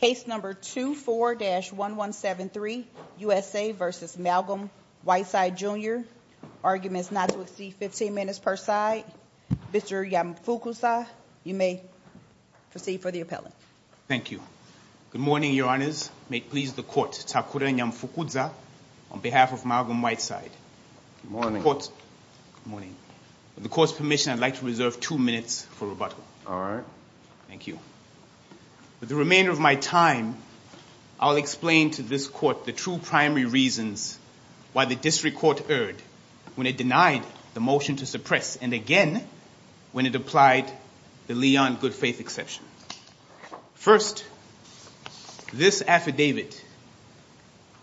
Case number 24-1173, USA v. Malgum Whiteside Jr. Arguments not to receive 15 minutes per side. Mr. Yamafukuza, you may proceed for the appellant. Thank you. Good morning, Your Honors. May it please the Court, Takura Yamafukuza, on behalf of Malgum Whiteside. Good morning. Good morning. With the Court's permission, I'd like to reserve two minutes for rebuttal. All right. Thank you. With the remainder of my time, I'll explain to this Court the two primary reasons why the district court erred when it denied the motion to suppress and again when it applied the Leon good faith exception. First, this affidavit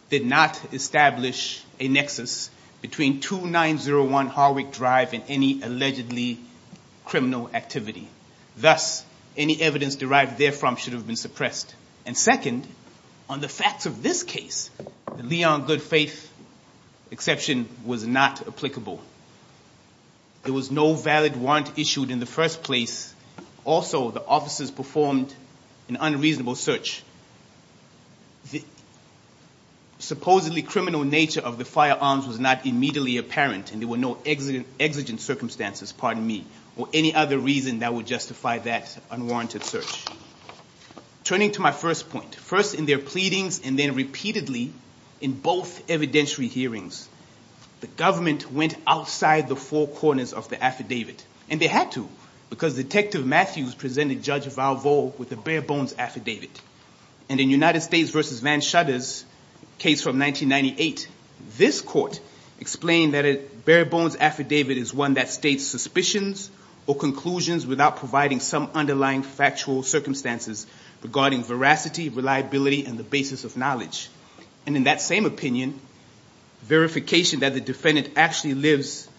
did not establish a nexus between 2901 Harwick Drive and any allegedly criminal activity. Thus, any evidence derived therefrom should have been suppressed. And second, on the facts of this case, the Leon good faith exception was not applicable. There was no valid warrant issued in the first place. Also, the officers performed an unreasonable search. The supposedly criminal nature of the firearms was not immediately apparent and there were no exigent circumstances, pardon me, or any other reason that would justify that unwarranted search. Turning to my first point, first in their pleadings and then repeatedly in both evidentiary hearings, the government went outside the four corners of the affidavit. And they had to because Detective Matthews presented Judge Valvo with a bare bones affidavit. And in United States v. Van Shutter's case from 1998, this court explained that a bare bones affidavit is one that states suspicions or conclusions without providing some underlying factual circumstances regarding veracity, reliability, and the basis of knowledge. And in that same opinion, verification that the defendant actually lives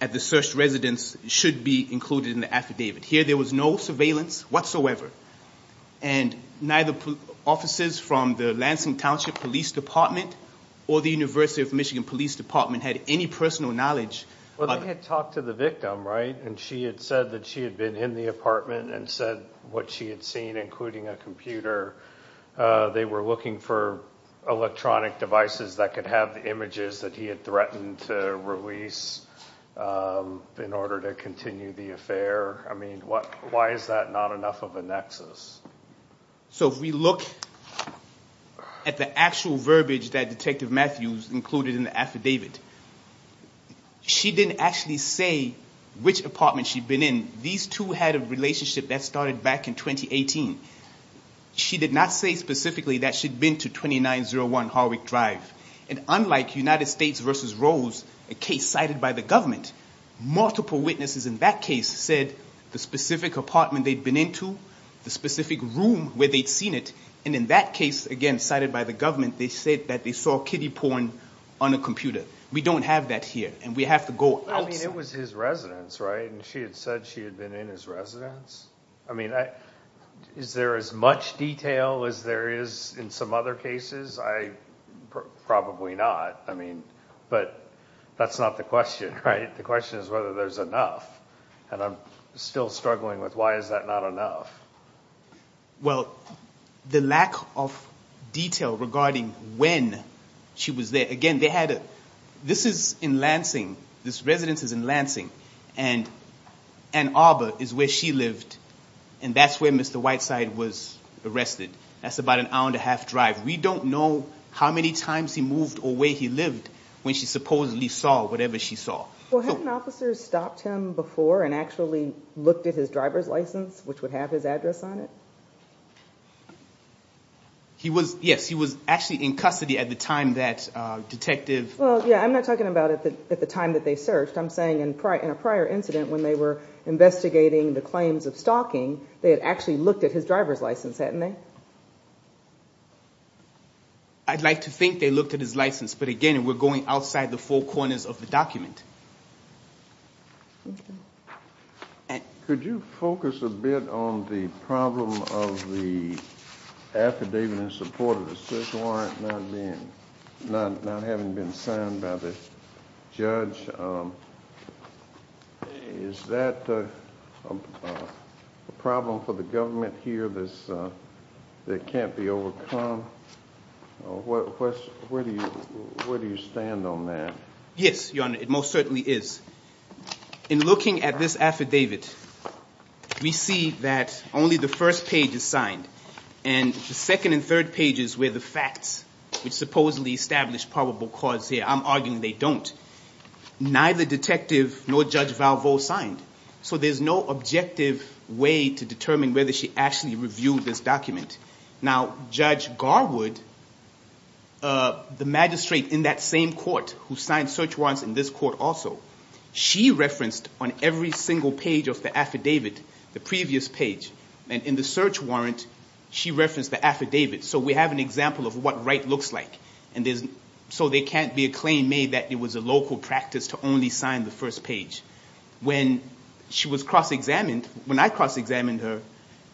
at the searched residence should be included in the affidavit. Here there was no surveillance whatsoever. And neither officers from the Lansing Township Police Department or the University of Michigan Police Department had any personal knowledge. Well, they had talked to the victim, right? And she had said that she had been in the apartment and said what she had seen, including a computer. They were looking for electronic devices that could have the images that he had threatened to release in order to continue the affair. I mean, why is that not enough of a nexus? So if we look at the actual verbiage that Detective Matthews included in the affidavit, she didn't actually say which apartment she'd been in. These two had a relationship that started back in 2018. She did not say specifically that she'd been to 2901 Harwick Drive. And unlike United States v. Rose, a case cited by the government, multiple witnesses in that case said the specific apartment they'd been into, the specific room where they'd seen it. And in that case, again, cited by the government, they said that they saw kiddie porn on a computer. We don't have that here, and we have to go outside. I mean, it was his residence, right? And she had said she had been in his residence. I mean, is there as much detail as there is in some other cases? Probably not. I mean, but that's not the question, right? The question is whether there's enough. And I'm still struggling with why is that not enough? Well, the lack of detail regarding when she was there. Again, this is in Lansing. This residence is in Lansing. And Ann Arbor is where she lived, and that's where Mr. Whiteside was arrested. That's about an hour and a half drive. We don't know how many times he moved or where he lived when she supposedly saw whatever she saw. Well, hadn't officers stopped him before and actually looked at his driver's license, which would have his address on it? Yes, he was actually in custody at the time that detective— Well, yeah, I'm not talking about at the time that they searched. I'm saying in a prior incident when they were investigating the claims of stalking, they had actually looked at his driver's license, hadn't they? I'd like to think they looked at his license, but again, we're going outside the four corners of the document. Could you focus a bit on the problem of the affidavit in support of the search warrant not having been signed by the judge? Is that a problem for the government here that can't be overcome? Where do you stand on that? Yes, Your Honor, it most certainly is. In looking at this affidavit, we see that only the first page is signed, and the second and third pages were the facts which supposedly established probable cause here. I'm arguing they don't. Neither detective nor Judge Valvo signed, so there's no objective way to determine whether she actually reviewed this document. Now, Judge Garwood, the magistrate in that same court who signed search warrants in this court also, she referenced on every single page of the affidavit, the previous page. And in the search warrant, she referenced the affidavit. So we have an example of what right looks like. So there can't be a claim made that it was a local practice to only sign the first page. When she was cross-examined, when I cross-examined her,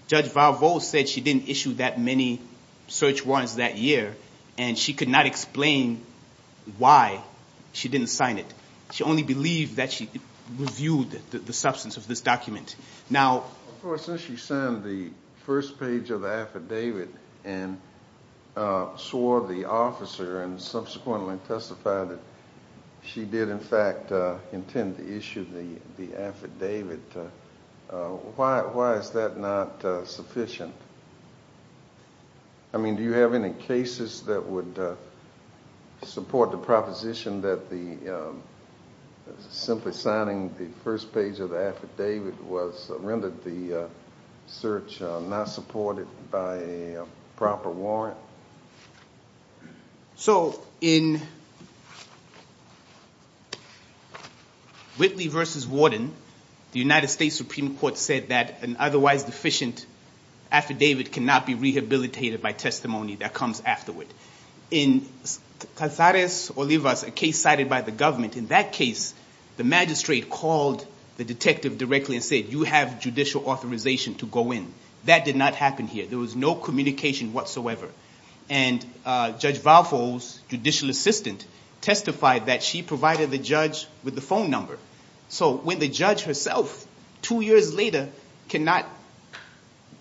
Judge Valvo said she didn't issue that many search warrants that year, and she could not explain why she didn't sign it. She only believed that she reviewed the substance of this document. Of course, since she signed the first page of the affidavit and swore the officer and subsequently testified that she did, in fact, intend to issue the affidavit, why is that not sufficient? I mean, do you have any cases that would support the proposition that simply signing the first page of the affidavit rendered the search not supported by a proper warrant? So in Whitley v. Warden, the United States Supreme Court said that an otherwise deficient affidavit cannot be rehabilitated by testimony that comes afterward. In Cazares-Olivas, a case cited by the government, in that case, the magistrate called the detective directly and said, you have judicial authorization to go in. That did not happen here. There was no communication whatsoever. And Judge Valvo's judicial assistant testified that she provided the judge with the phone number. So when the judge herself, two years later, cannot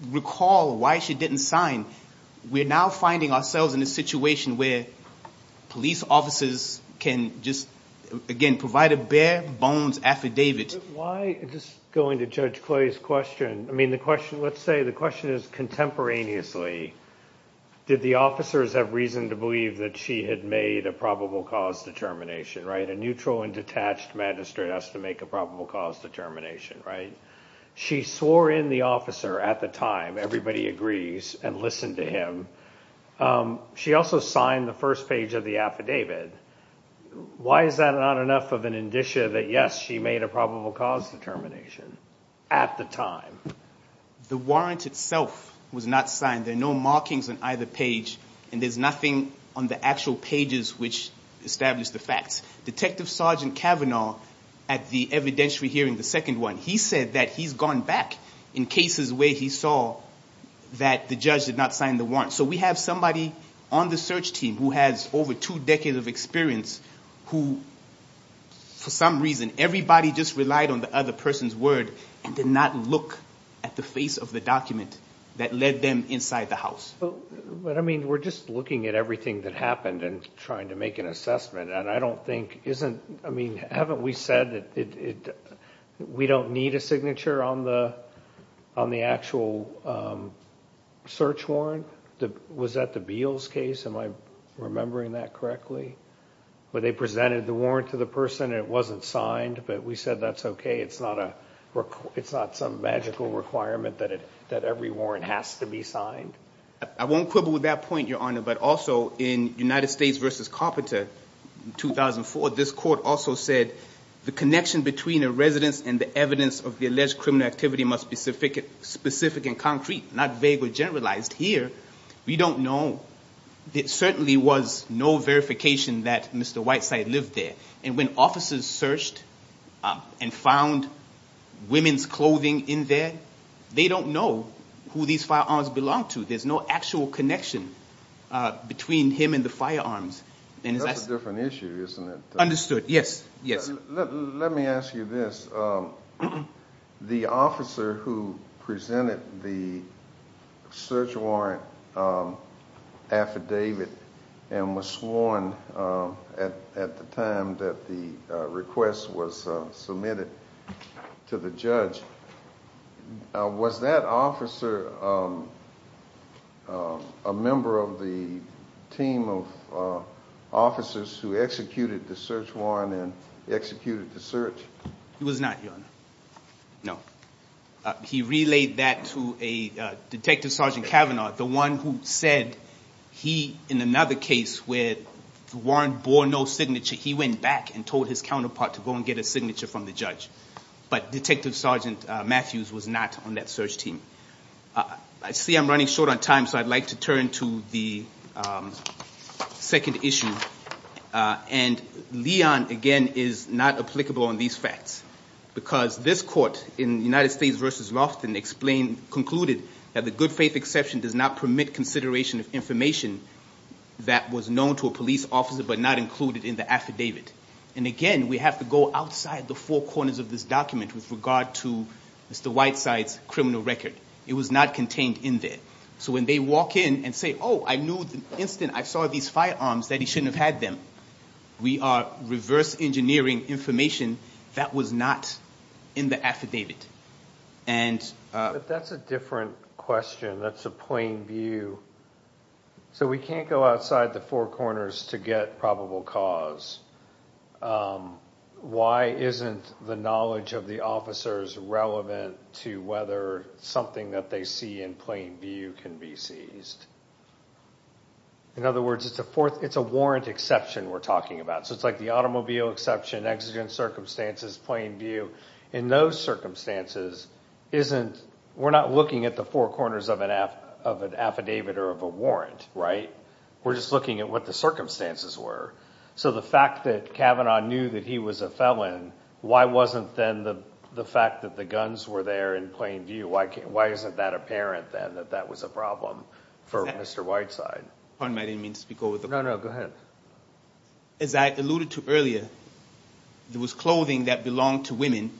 recall why she didn't sign, we're now finding ourselves in a situation where police officers can just, again, provide a bare-bones affidavit. Why, just going to Judge Clay's question, I mean, let's say the question is contemporaneously, did the officers have reason to believe that she had made a probable cause determination, right? A neutral and detached magistrate has to make a probable cause determination, right? She swore in the officer at the time. Everybody agrees and listened to him. She also signed the first page of the affidavit. Why is that not enough of an indicia that, yes, she made a probable cause determination at the time? The warrant itself was not signed. There are no markings on either page, and there's nothing on the actual pages which establish the facts. Detective Sergeant Cavanaugh, at the evidentiary hearing, the second one, he said that he's gone back in cases where he saw that the judge did not sign the warrant. So we have somebody on the search team who has over two decades of experience who, for some reason, everybody just relied on the other person's word and did not look at the face of the document that led them inside the house. But, I mean, we're just looking at everything that happened and trying to make an assessment, and I don't think isn't, I mean, haven't we said that we don't need a signature on the actual search warrant? Was that the Beals case? Am I remembering that correctly? Where they presented the warrant to the person and it wasn't signed, but we said that's okay. It's not some magical requirement that every warrant has to be signed. I won't quibble with that point, Your Honor, but also in United States v. Carpenter, 2004, this court also said the connection between a residence and the evidence of the alleged criminal activity must be specific and concrete, not vague or generalized. Here, we don't know. There certainly was no verification that Mr. Whiteside lived there. And when officers searched and found women's clothing in there, they don't know who these firearms belonged to. There's no actual connection between him and the firearms. That's a different issue, isn't it? Understood, yes. Let me ask you this. The officer who presented the search warrant affidavit and was sworn at the time that the request was submitted to the judge, was that officer a member of the team of officers who executed the search warrant and executed the search? He was not, Your Honor. No. He relayed that to Detective Sergeant Kavanaugh, the one who said he, in another case where the warrant bore no signature, he went back and told his counterpart to go and get a signature from the judge. But Detective Sergeant Matthews was not on that search team. I see I'm running short on time, so I'd like to turn to the second issue. And Leon, again, is not applicable on these facts because this court, in United States v. Lofton, concluded that the good faith exception does not permit consideration of information that was known to a police officer but not included in the affidavit. And again, we have to go outside the four corners of this document with regard to Mr. Whiteside's criminal record. It was not contained in there. So when they walk in and say, oh, I knew the instant I saw these firearms that he shouldn't have had them, we are reverse engineering information that was not in the affidavit. But that's a different question. That's a plain view. So we can't go outside the four corners to get probable cause. Why isn't the knowledge of the officers relevant to whether something that they see in plain view can be seized? In other words, it's a warrant exception we're talking about. So it's like the automobile exception, exigent circumstances, plain view. In those circumstances, we're not looking at the four corners of an affidavit or of a warrant, right? We're just looking at what the circumstances were. So the fact that Kavanaugh knew that he was a felon, why wasn't then the fact that the guns were there in plain view? Why isn't that apparent then that that was a problem for Mr. Whiteside? No, no, go ahead. As I alluded to earlier, there was clothing that belonged to women.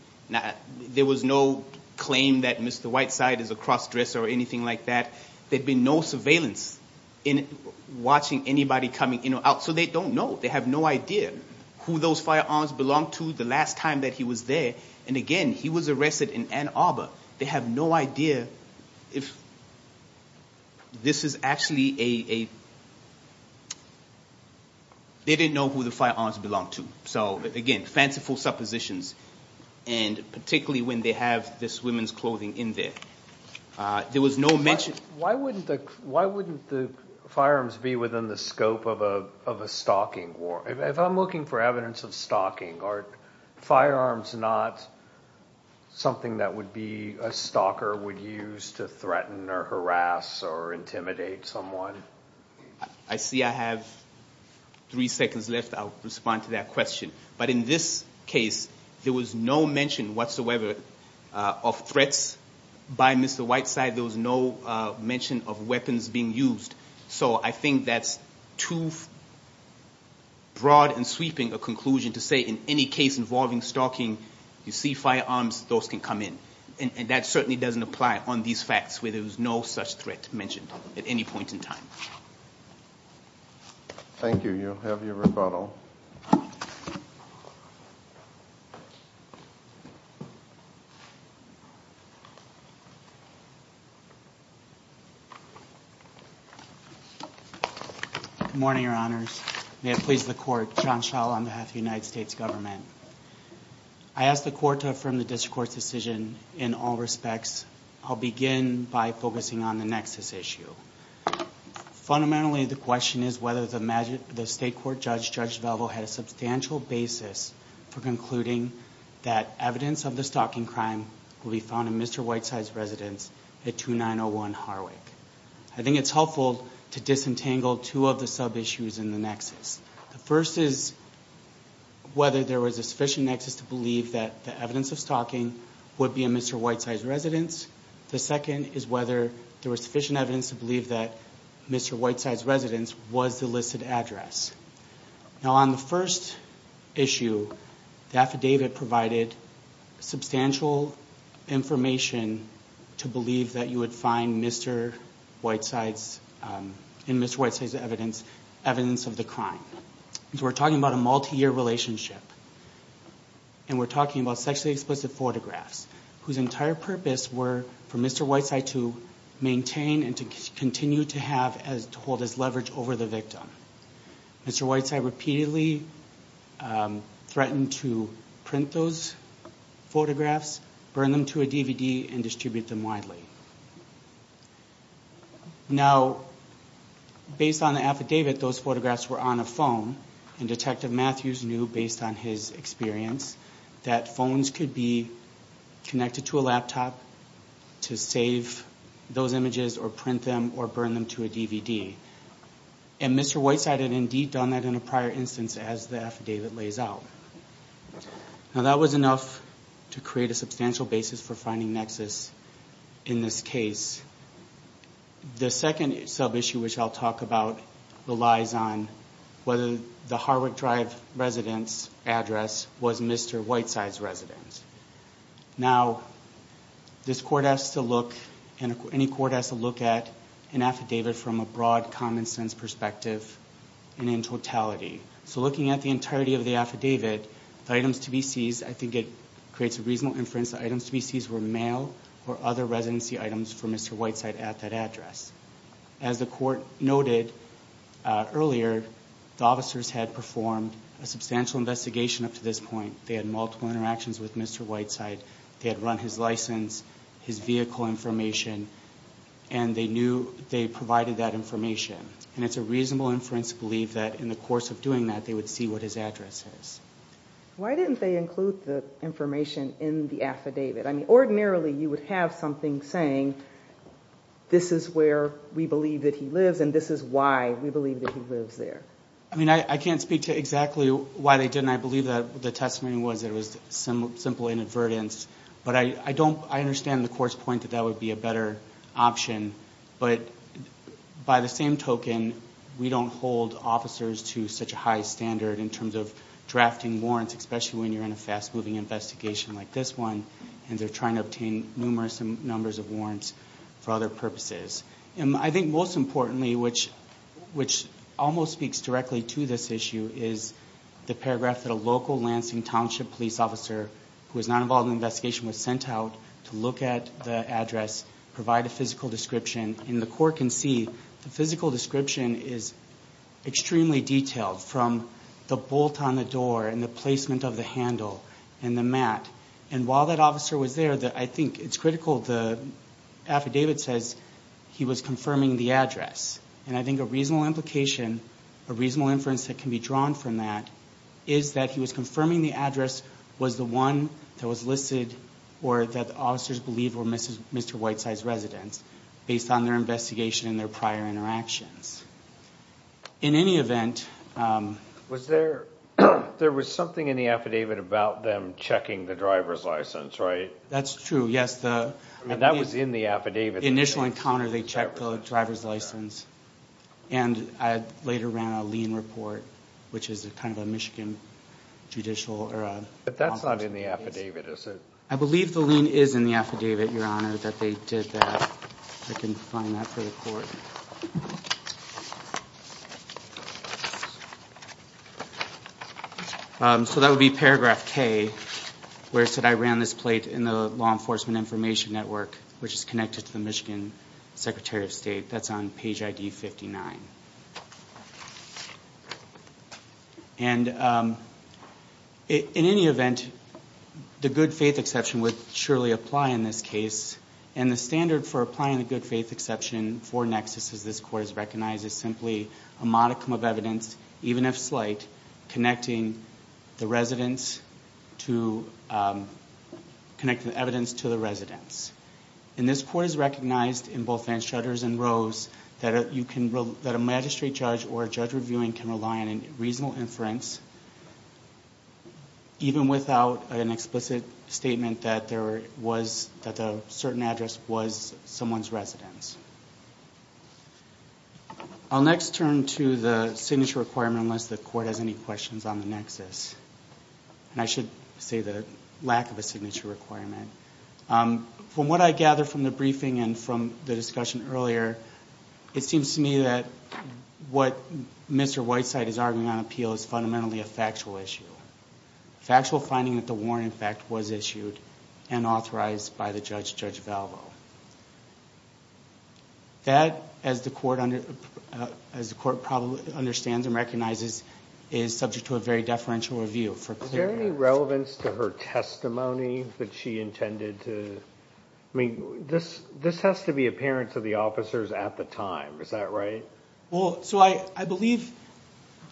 There was no claim that Mr. Whiteside is a cross-dresser or anything like that. There had been no surveillance in watching anybody coming in or out. So they don't know. They have no idea who those firearms belonged to the last time that he was there. And, again, he was arrested in Ann Arbor. They have no idea if this is actually a – they didn't know who the firearms belonged to. So, again, fanciful suppositions, and particularly when they have this women's clothing in there. There was no mention – Why wouldn't the firearms be within the scope of a stalking warrant? If I'm looking for evidence of stalking, are firearms not something that would be a stalker would use to threaten or harass or intimidate someone? I see I have three seconds left. I'll respond to that question. But in this case, there was no mention whatsoever of threats by Mr. Whiteside. There was no mention of weapons being used. So I think that's too broad and sweeping a conclusion to say in any case involving stalking, you see firearms, those can come in. And that certainly doesn't apply on these facts where there was no such threat mentioned at any point in time. Thank you. You have your rebuttal. Good morning, Your Honors. May it please the Court, John Schall on behalf of the United States Government. I ask the Court to affirm the district court's decision in all respects. I'll begin by focusing on the nexus issue. Fundamentally, the question is whether the state court judge, Judge Devalvo, had a substantial basis for concluding that evidence of the stalking crime will be found in Mr. Whiteside's residence at 2901 Harwick. I think it's helpful to disentangle two of the sub-issues in the nexus. The first is whether there was a sufficient nexus to believe that the evidence of stalking would be in Mr. Whiteside's residence. The second is whether there was sufficient evidence to believe that Mr. Whiteside's residence was the listed address. Now, on the first issue, the affidavit provided substantial information to believe that you would find in Mr. Whiteside's evidence evidence of the crime. We're talking about a multi-year relationship. And we're talking about sexually explicit photographs whose entire purpose were for Mr. Whiteside to maintain and to continue to hold his leverage over the victim. Mr. Whiteside repeatedly threatened to print those photographs, burn them to a DVD, and distribute them widely. Now, based on the affidavit, those photographs were on a phone. And Detective Matthews knew, based on his experience, that phones could be connected to a laptop to save those images or print them or burn them to a DVD. And Mr. Whiteside had indeed done that in a prior instance as the affidavit lays out. Now, that was enough to create a substantial basis for finding nexus in this case. The second sub-issue, which I'll talk about, relies on whether the Harwood Drive residence address was Mr. Whiteside's residence. Now, this court has to look and any court has to look at an affidavit from a broad, common-sense perspective and in totality. So looking at the entirety of the affidavit, the items to be seized, I think it creates a reasonable inference that items to be seized were mail or other residency items for Mr. Whiteside at that address. As the court noted earlier, the officers had performed a substantial investigation up to this point. They had multiple interactions with Mr. Whiteside. They had run his license, his vehicle information, and they knew they provided that information. And it's a reasonable inference to believe that in the course of doing that, they would see what his address is. Why didn't they include the information in the affidavit? I mean, ordinarily you would have something saying this is where we believe that he lives and this is why we believe that he lives there. I mean, I can't speak to exactly why they didn't. I believe that the testimony was that it was simple inadvertence. But I understand the court's point that that would be a better option. But by the same token, we don't hold officers to such a high standard in terms of drafting warrants, especially when you're in a fast-moving investigation like this one. And they're trying to obtain numerous numbers of warrants for other purposes. And I think most importantly, which almost speaks directly to this issue, is the paragraph that a local Lansing Township police officer who was not involved in the investigation was sent out to look at the address, provide a physical description, and the court can see the physical description is extremely detailed, from the bolt on the door and the placement of the handle and the mat. And while that officer was there, I think it's critical the affidavit says he was confirming the address. And I think a reasonable implication, a reasonable inference that can be drawn from that, is that he was confirming the address was the one that was listed or that the officers believed were Mr. Whiteside's residence, based on their investigation and their prior interactions. In any event... There was something in the affidavit about them checking the driver's license, right? That's true, yes. That was in the affidavit. Initial encounter, they checked the driver's license. And I later ran a lien report, which is kind of a Michigan judicial... But that's not in the affidavit, is it? I believe the lien is in the affidavit, Your Honor, that they did that. If I can find that for the Court. So that would be paragraph K, where it said, I ran this plate in the Law Enforcement Information Network, which is connected to the Michigan Secretary of State. That's on page ID 59. And in any event, the good faith exception would surely apply in this case. And the standard for applying the good faith exception for nexus, as this Court has recognized, is simply a modicum of evidence, even if slight, connecting the evidence to the residence. And this Court has recognized, in both Vanstraders and Rose, that a magistrate judge or a judge reviewing can rely on a reasonable inference, even without an explicit statement that a certain address was someone's residence. I'll next turn to the signature requirement, unless the Court has any questions on the nexus. And I should say the lack of a signature requirement. From what I gather from the briefing and from the discussion earlier, it seems to me that what Mr. Whiteside is arguing on appeal is fundamentally a factual issue. Factual finding that the warrant, in fact, was issued and authorized by the judge, Judge Valvo. That, as the Court probably understands and recognizes, is subject to a very deferential review. Is there any relevance to her testimony that she intended to? I mean, this has to be apparent to the officers at the time. Is that right? Well, so I believe,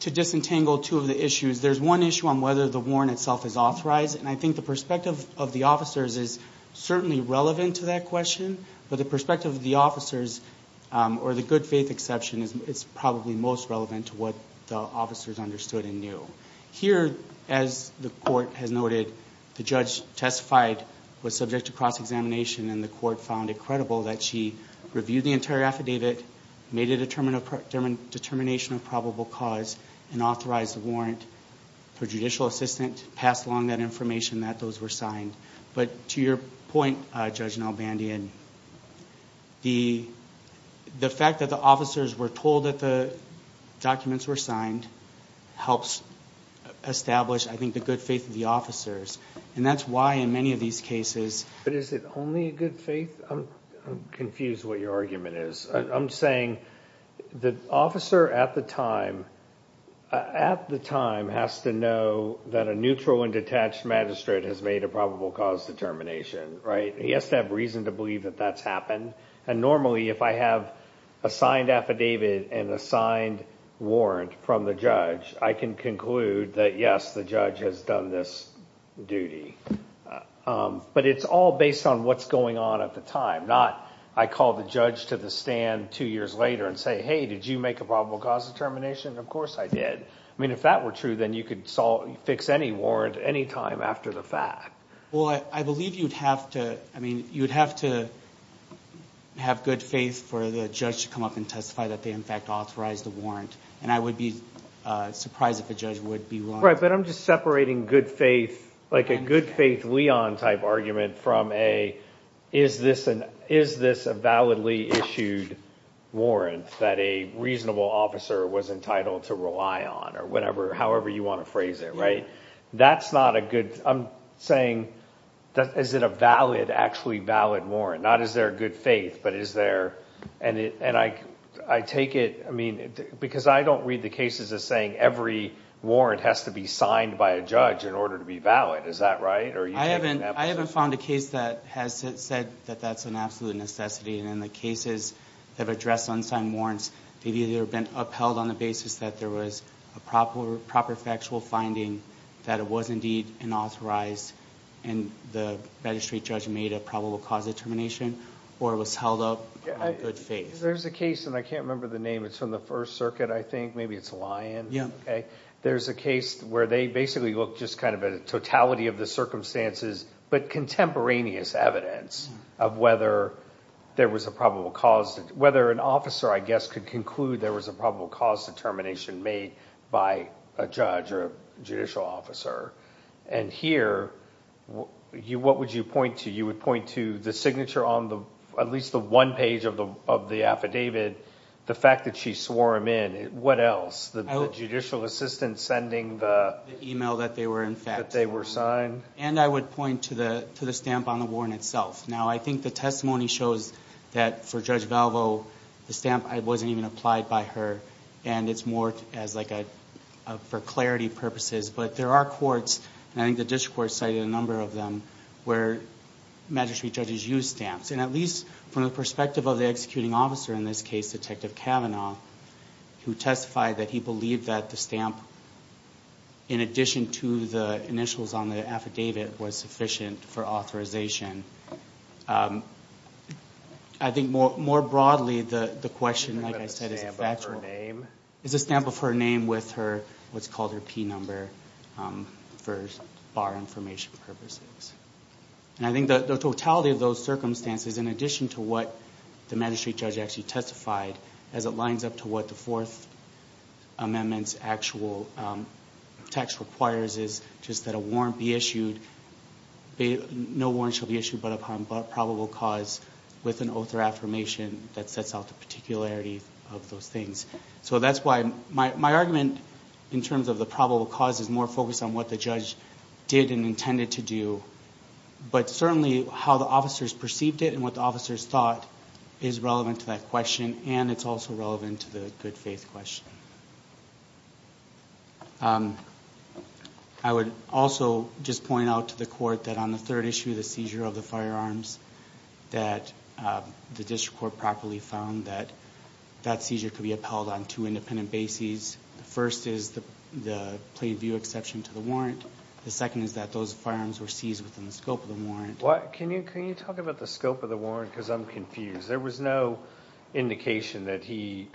to disentangle two of the issues, there's one issue on whether the warrant itself is authorized. And I think the perspective of the officers is certainly relevant to that question. But the perspective of the officers, or the good faith exception, is probably most relevant to what the officers understood and knew. Here, as the Court has noted, the judge testified, was subject to cross-examination, and the Court found it credible that she reviewed the entire affidavit, made a determination of probable cause, and authorized the warrant. Her judicial assistant passed along that information that those were signed. But to your point, Judge Nalbandian, the fact that the officers were told that the documents were signed helps establish, I think, the good faith of the officers. And that's why, in many of these cases... But is it only good faith? I'm confused what your argument is. I'm saying, the officer at the time, at the time, has to know that a neutral and detached magistrate has made a probable cause determination, right? He has to have reason to believe that that's happened. And normally, if I have a signed affidavit and a signed warrant from the judge, I can conclude that, yes, the judge has done this duty. But it's all based on what's going on at the time. Not, I call the judge to the stand two years later and say, hey, did you make a probable cause determination? Of course I did. I mean, if that were true, then you could fix any warrant any time after the fact. Well, I believe you'd have to, I mean, you'd have to have good faith for the judge to come up and testify that they, in fact, authorized the warrant. And I would be surprised if a judge would be wrong. Right, but I'm just separating good faith, like a good faith Leon-type argument from a, is this a validly issued warrant that a reasonable officer was entitled to rely on, or whatever, however you want to phrase it, right? That's not a good, I'm saying, is it a valid, actually valid warrant? Not is there good faith, but is there, and I take it, I mean, because I don't read the cases as saying every warrant has to be signed by a judge in order to be valid. Is that right? I haven't found a case that has said that that's an absolute necessity. And in the cases that have addressed unsigned warrants, they've either been upheld on the basis that there was a proper factual finding that it was indeed an authorized, and the magistrate judge made a probable cause determination, or it was held up on good faith. There's a case, and I can't remember the name, it's from the First Circuit, I think, maybe it's Lyon, okay? There's a case where they basically look just kind of at a totality of the circumstances, but contemporaneous evidence of whether there was a probable cause, whether an officer, I guess, could conclude there was a probable cause determination made by a judge or a judicial officer. And here, what would you point to? You would point to the signature on at least the one page of the affidavit, the fact that she swore him in. What else? The judicial assistant sending the... The email that they were in fact... That they were signed. And I would point to the stamp on the warrant itself. Now, I think the testimony shows that for Judge Valvo, the stamp wasn't even applied by her, and it's more for clarity purposes. But there are courts, and I think the district court cited a number of them, where magistrate judges use stamps. And at least from the perspective of the executing officer in this case, Detective Cavanaugh, who testified that he believed that the stamp, in addition to the initials on the affidavit, was sufficient for authorization. I think more broadly, the question, like I said, is a factual... Is it a stamp of her name? It's a stamp of her name with what's called her P number for bar information purposes. And I think the totality of those circumstances, in addition to what the magistrate judge actually testified, as it lines up to what the Fourth Amendment's actual text requires, is just that a warrant be issued. No warrant shall be issued but upon probable cause with an oath or affirmation that sets out the particularities of those things. So that's why my argument, in terms of the probable cause, is more focused on what the judge did and intended to do, but certainly how the officers perceived it and what the officers thought is relevant to that question, and it's also relevant to the good faith question. I would also just point out to the Court that on the third issue, the seizure of the firearms, that the district court properly found that that seizure could be upheld on two independent bases. The first is the plain view exception to the warrant. The second is that those firearms were seized within the scope of the warrant. Can you talk about the scope of the warrant? Because I'm confused. There was no indication that he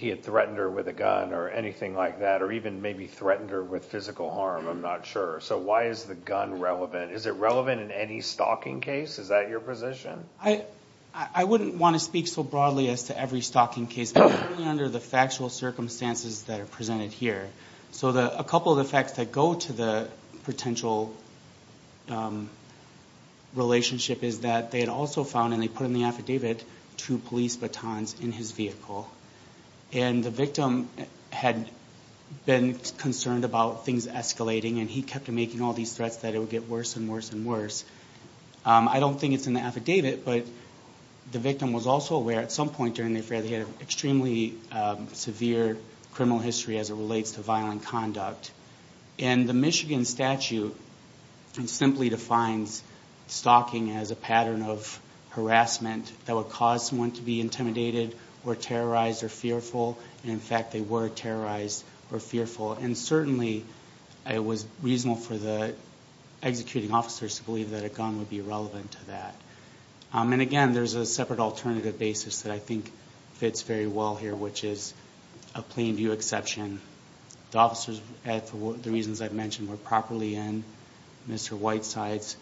had threatened her with a gun or anything like that, or even maybe threatened her with physical harm. I'm not sure. So why is the gun relevant? Is it relevant in any stalking case? Is that your position? I wouldn't want to speak so broadly as to every stalking case, but under the factual circumstances that are presented here. So a couple of the facts that go to the potential relationship is that they had also found, and they put in the affidavit, two police batons in his vehicle. And the victim had been concerned about things escalating, and he kept making all these threats that it would get worse and worse and worse. I don't think it's in the affidavit, but the victim was also aware at some point during the affair that he had an extremely severe criminal history as it relates to violent conduct. And the Michigan statute simply defines stalking as a pattern of harassment that would cause someone to be intimidated or terrorized or fearful. In fact, they were terrorized or fearful. And certainly it was reasonable for the executing officers to believe that a gun would be relevant to that. And again, there's a separate alternative basis that I think fits very well here, which is a plain view exception. The officers, for the reasons I've mentioned, were properly in Mr. Whiteside's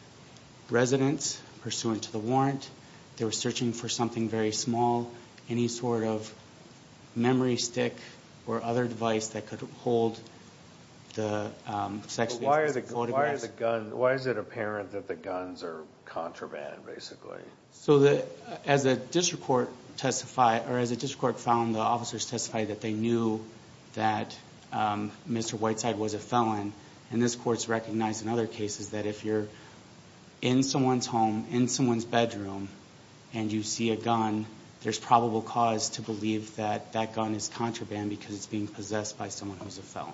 residence, pursuant to the warrant. They were searching for something very small, any sort of memory stick or other device that could hold the sexually assaulted photograph. Why is it apparent that the guns are contraband, basically? So as a district court found, the officers testified that they knew that Mr. Whiteside was a felon. And this court's recognized in other cases that if you're in someone's home, in someone's bedroom, and you see a gun, there's probable cause to believe that that gun is contraband because it's being possessed by someone who's a felon.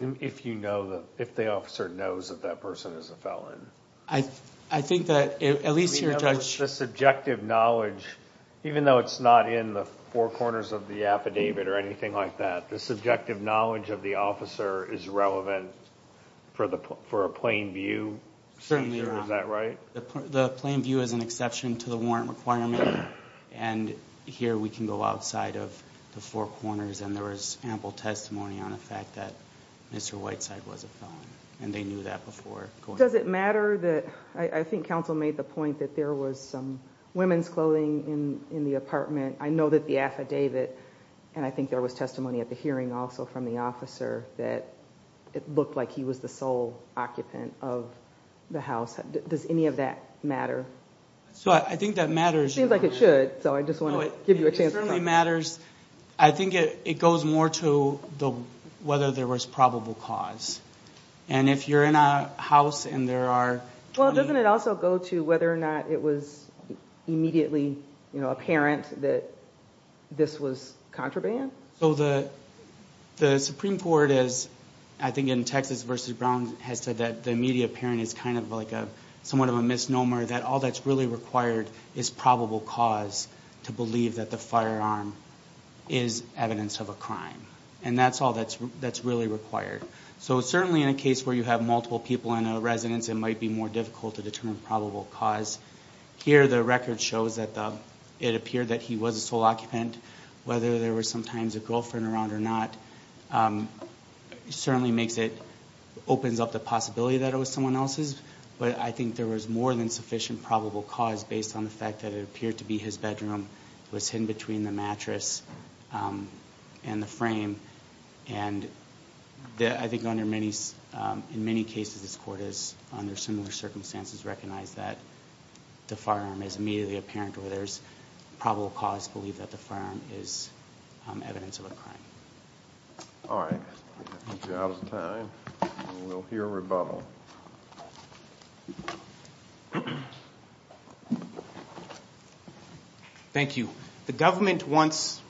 And if you know, if the officer knows that that person is a felon? I think that at least your judge... I mean, that was the subjective knowledge, even though it's not in the four corners of the affidavit or anything like that, the subjective knowledge of the officer is relevant for a plain view? Certainly not. Is that right? The plain view is an exception to the warrant requirement, and here we can go outside of the four corners, and there was ample testimony on the fact that Mr. Whiteside was a felon, and they knew that before going... Does it matter that... I think counsel made the point that there was some women's clothing in the apartment. I know that the affidavit, and I think there was testimony at the hearing also from the officer, that it looked like he was the sole occupant of the house. Does any of that matter? I think that matters. It seems like it should, so I just want to give you a chance to... It certainly matters. I think it goes more to whether there was probable cause. If you're in a house and there are... Well, doesn't it also go to whether or not it was immediately apparent that this was contraband? The Supreme Court, I think in Texas v. Brown, has said that the immediate apparent is somewhat of a misnomer, that all that's really required is probable cause to believe that the firearm is evidence of a crime, and that's all that's really required. So certainly in a case where you have multiple people in a residence, it might be more difficult to determine probable cause. Here the record shows that it appeared that he was a sole occupant. Whether there was sometimes a girlfriend around or not certainly makes it... opens up the possibility that it was someone else's, but I think there was more than sufficient probable cause based on the fact that it appeared to be his bedroom. It was hidden between the mattress and the frame, and I think in many cases this court has, under similar circumstances, recognized that the firearm is immediately apparent or there's probable cause to believe that the firearm is evidence of a crime. All right. I think we're out of time, and we'll hear rebuttal. Thank you. The government wants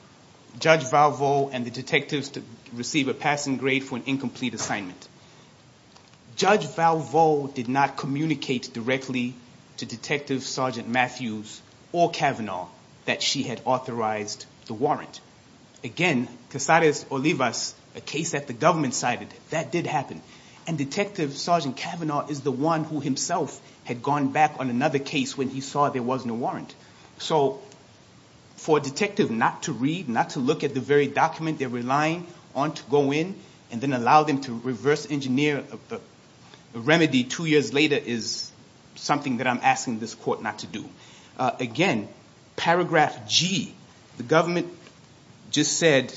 Judge Valvo and the detectives to receive a passing grade for an incomplete assignment. Judge Valvo did not communicate directly to Detective Sergeant Matthews or Kavanaugh that she had authorized the warrant. Again, Casares Olivas, a case that the government cited, that did happen, and Detective Sergeant Kavanaugh is the one who himself had gone back on another case when he saw there wasn't a warrant. So for a detective not to read, not to look at the very document they're relying on to go in, and then allow them to reverse engineer a remedy two years later is something that I'm asking this court not to do. Again, paragraph G. The government just said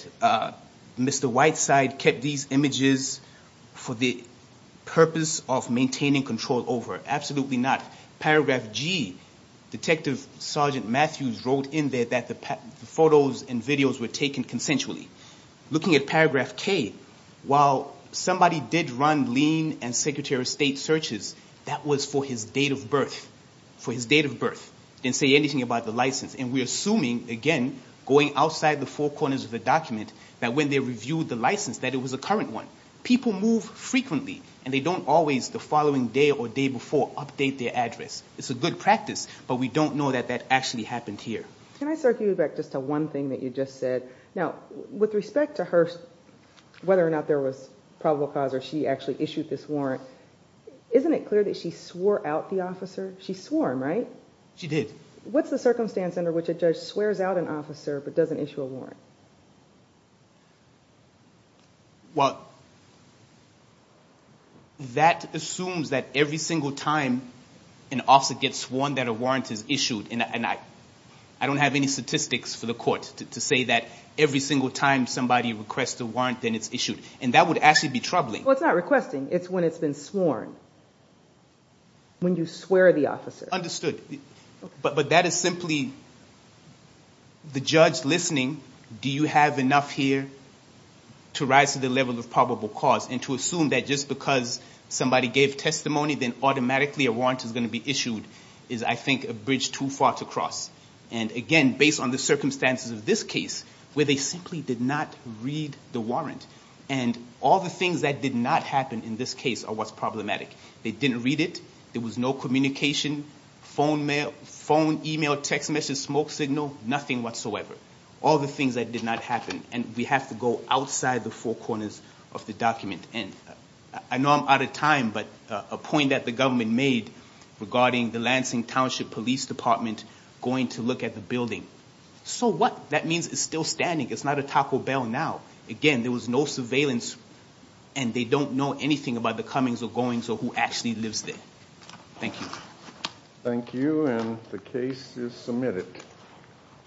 Mr. Whiteside kept these images for the purpose of maintaining control over. Absolutely not. Paragraph G. Detective Sergeant Matthews wrote in there that the photos and videos were taken consensually. Looking at paragraph K, while somebody did run lien and secretary of state searches, that was for his date of birth. For his date of birth. Didn't say anything about the license. And we're assuming, again, going outside the four corners of the document, that when they reviewed the license that it was a current one. People move frequently, and they don't always the following day or day before update their address. It's a good practice, but we don't know that that actually happened here. Can I circle you back just to one thing that you just said? Now, with respect to her, whether or not there was probable cause or she actually issued this warrant, isn't it clear that she swore out the officer? She swore him, right? She did. What's the circumstance under which a judge swears out an officer but doesn't issue a warrant? Well, that assumes that every single time an officer gets sworn that a warrant is issued. And I don't have any statistics for the court to say that every single time somebody requests a warrant, then it's issued. And that would actually be troubling. Well, it's not requesting. It's when it's been sworn. When you swear the officer. Understood. But that is simply the judge listening. Do you have enough here to rise to the level of probable cause? And to assume that just because somebody gave testimony, then automatically a warrant is going to be issued is, I think, a bridge too far to cross. And, again, based on the circumstances of this case, where they simply did not read the warrant, and all the things that did not happen in this case are what's problematic. They didn't read it. There was no communication, phone, email, text message, smoke signal, nothing whatsoever. All the things that did not happen. And we have to go outside the four corners of the document. And I know I'm out of time, but a point that the government made regarding the Lansing Township Police Department going to look at the building. So what? That means it's still standing. It's not a Taco Bell now. Again, there was no surveillance, and they don't know anything about the comings or goings or who actually lives there. Thank you. Thank you, and the case is submitted.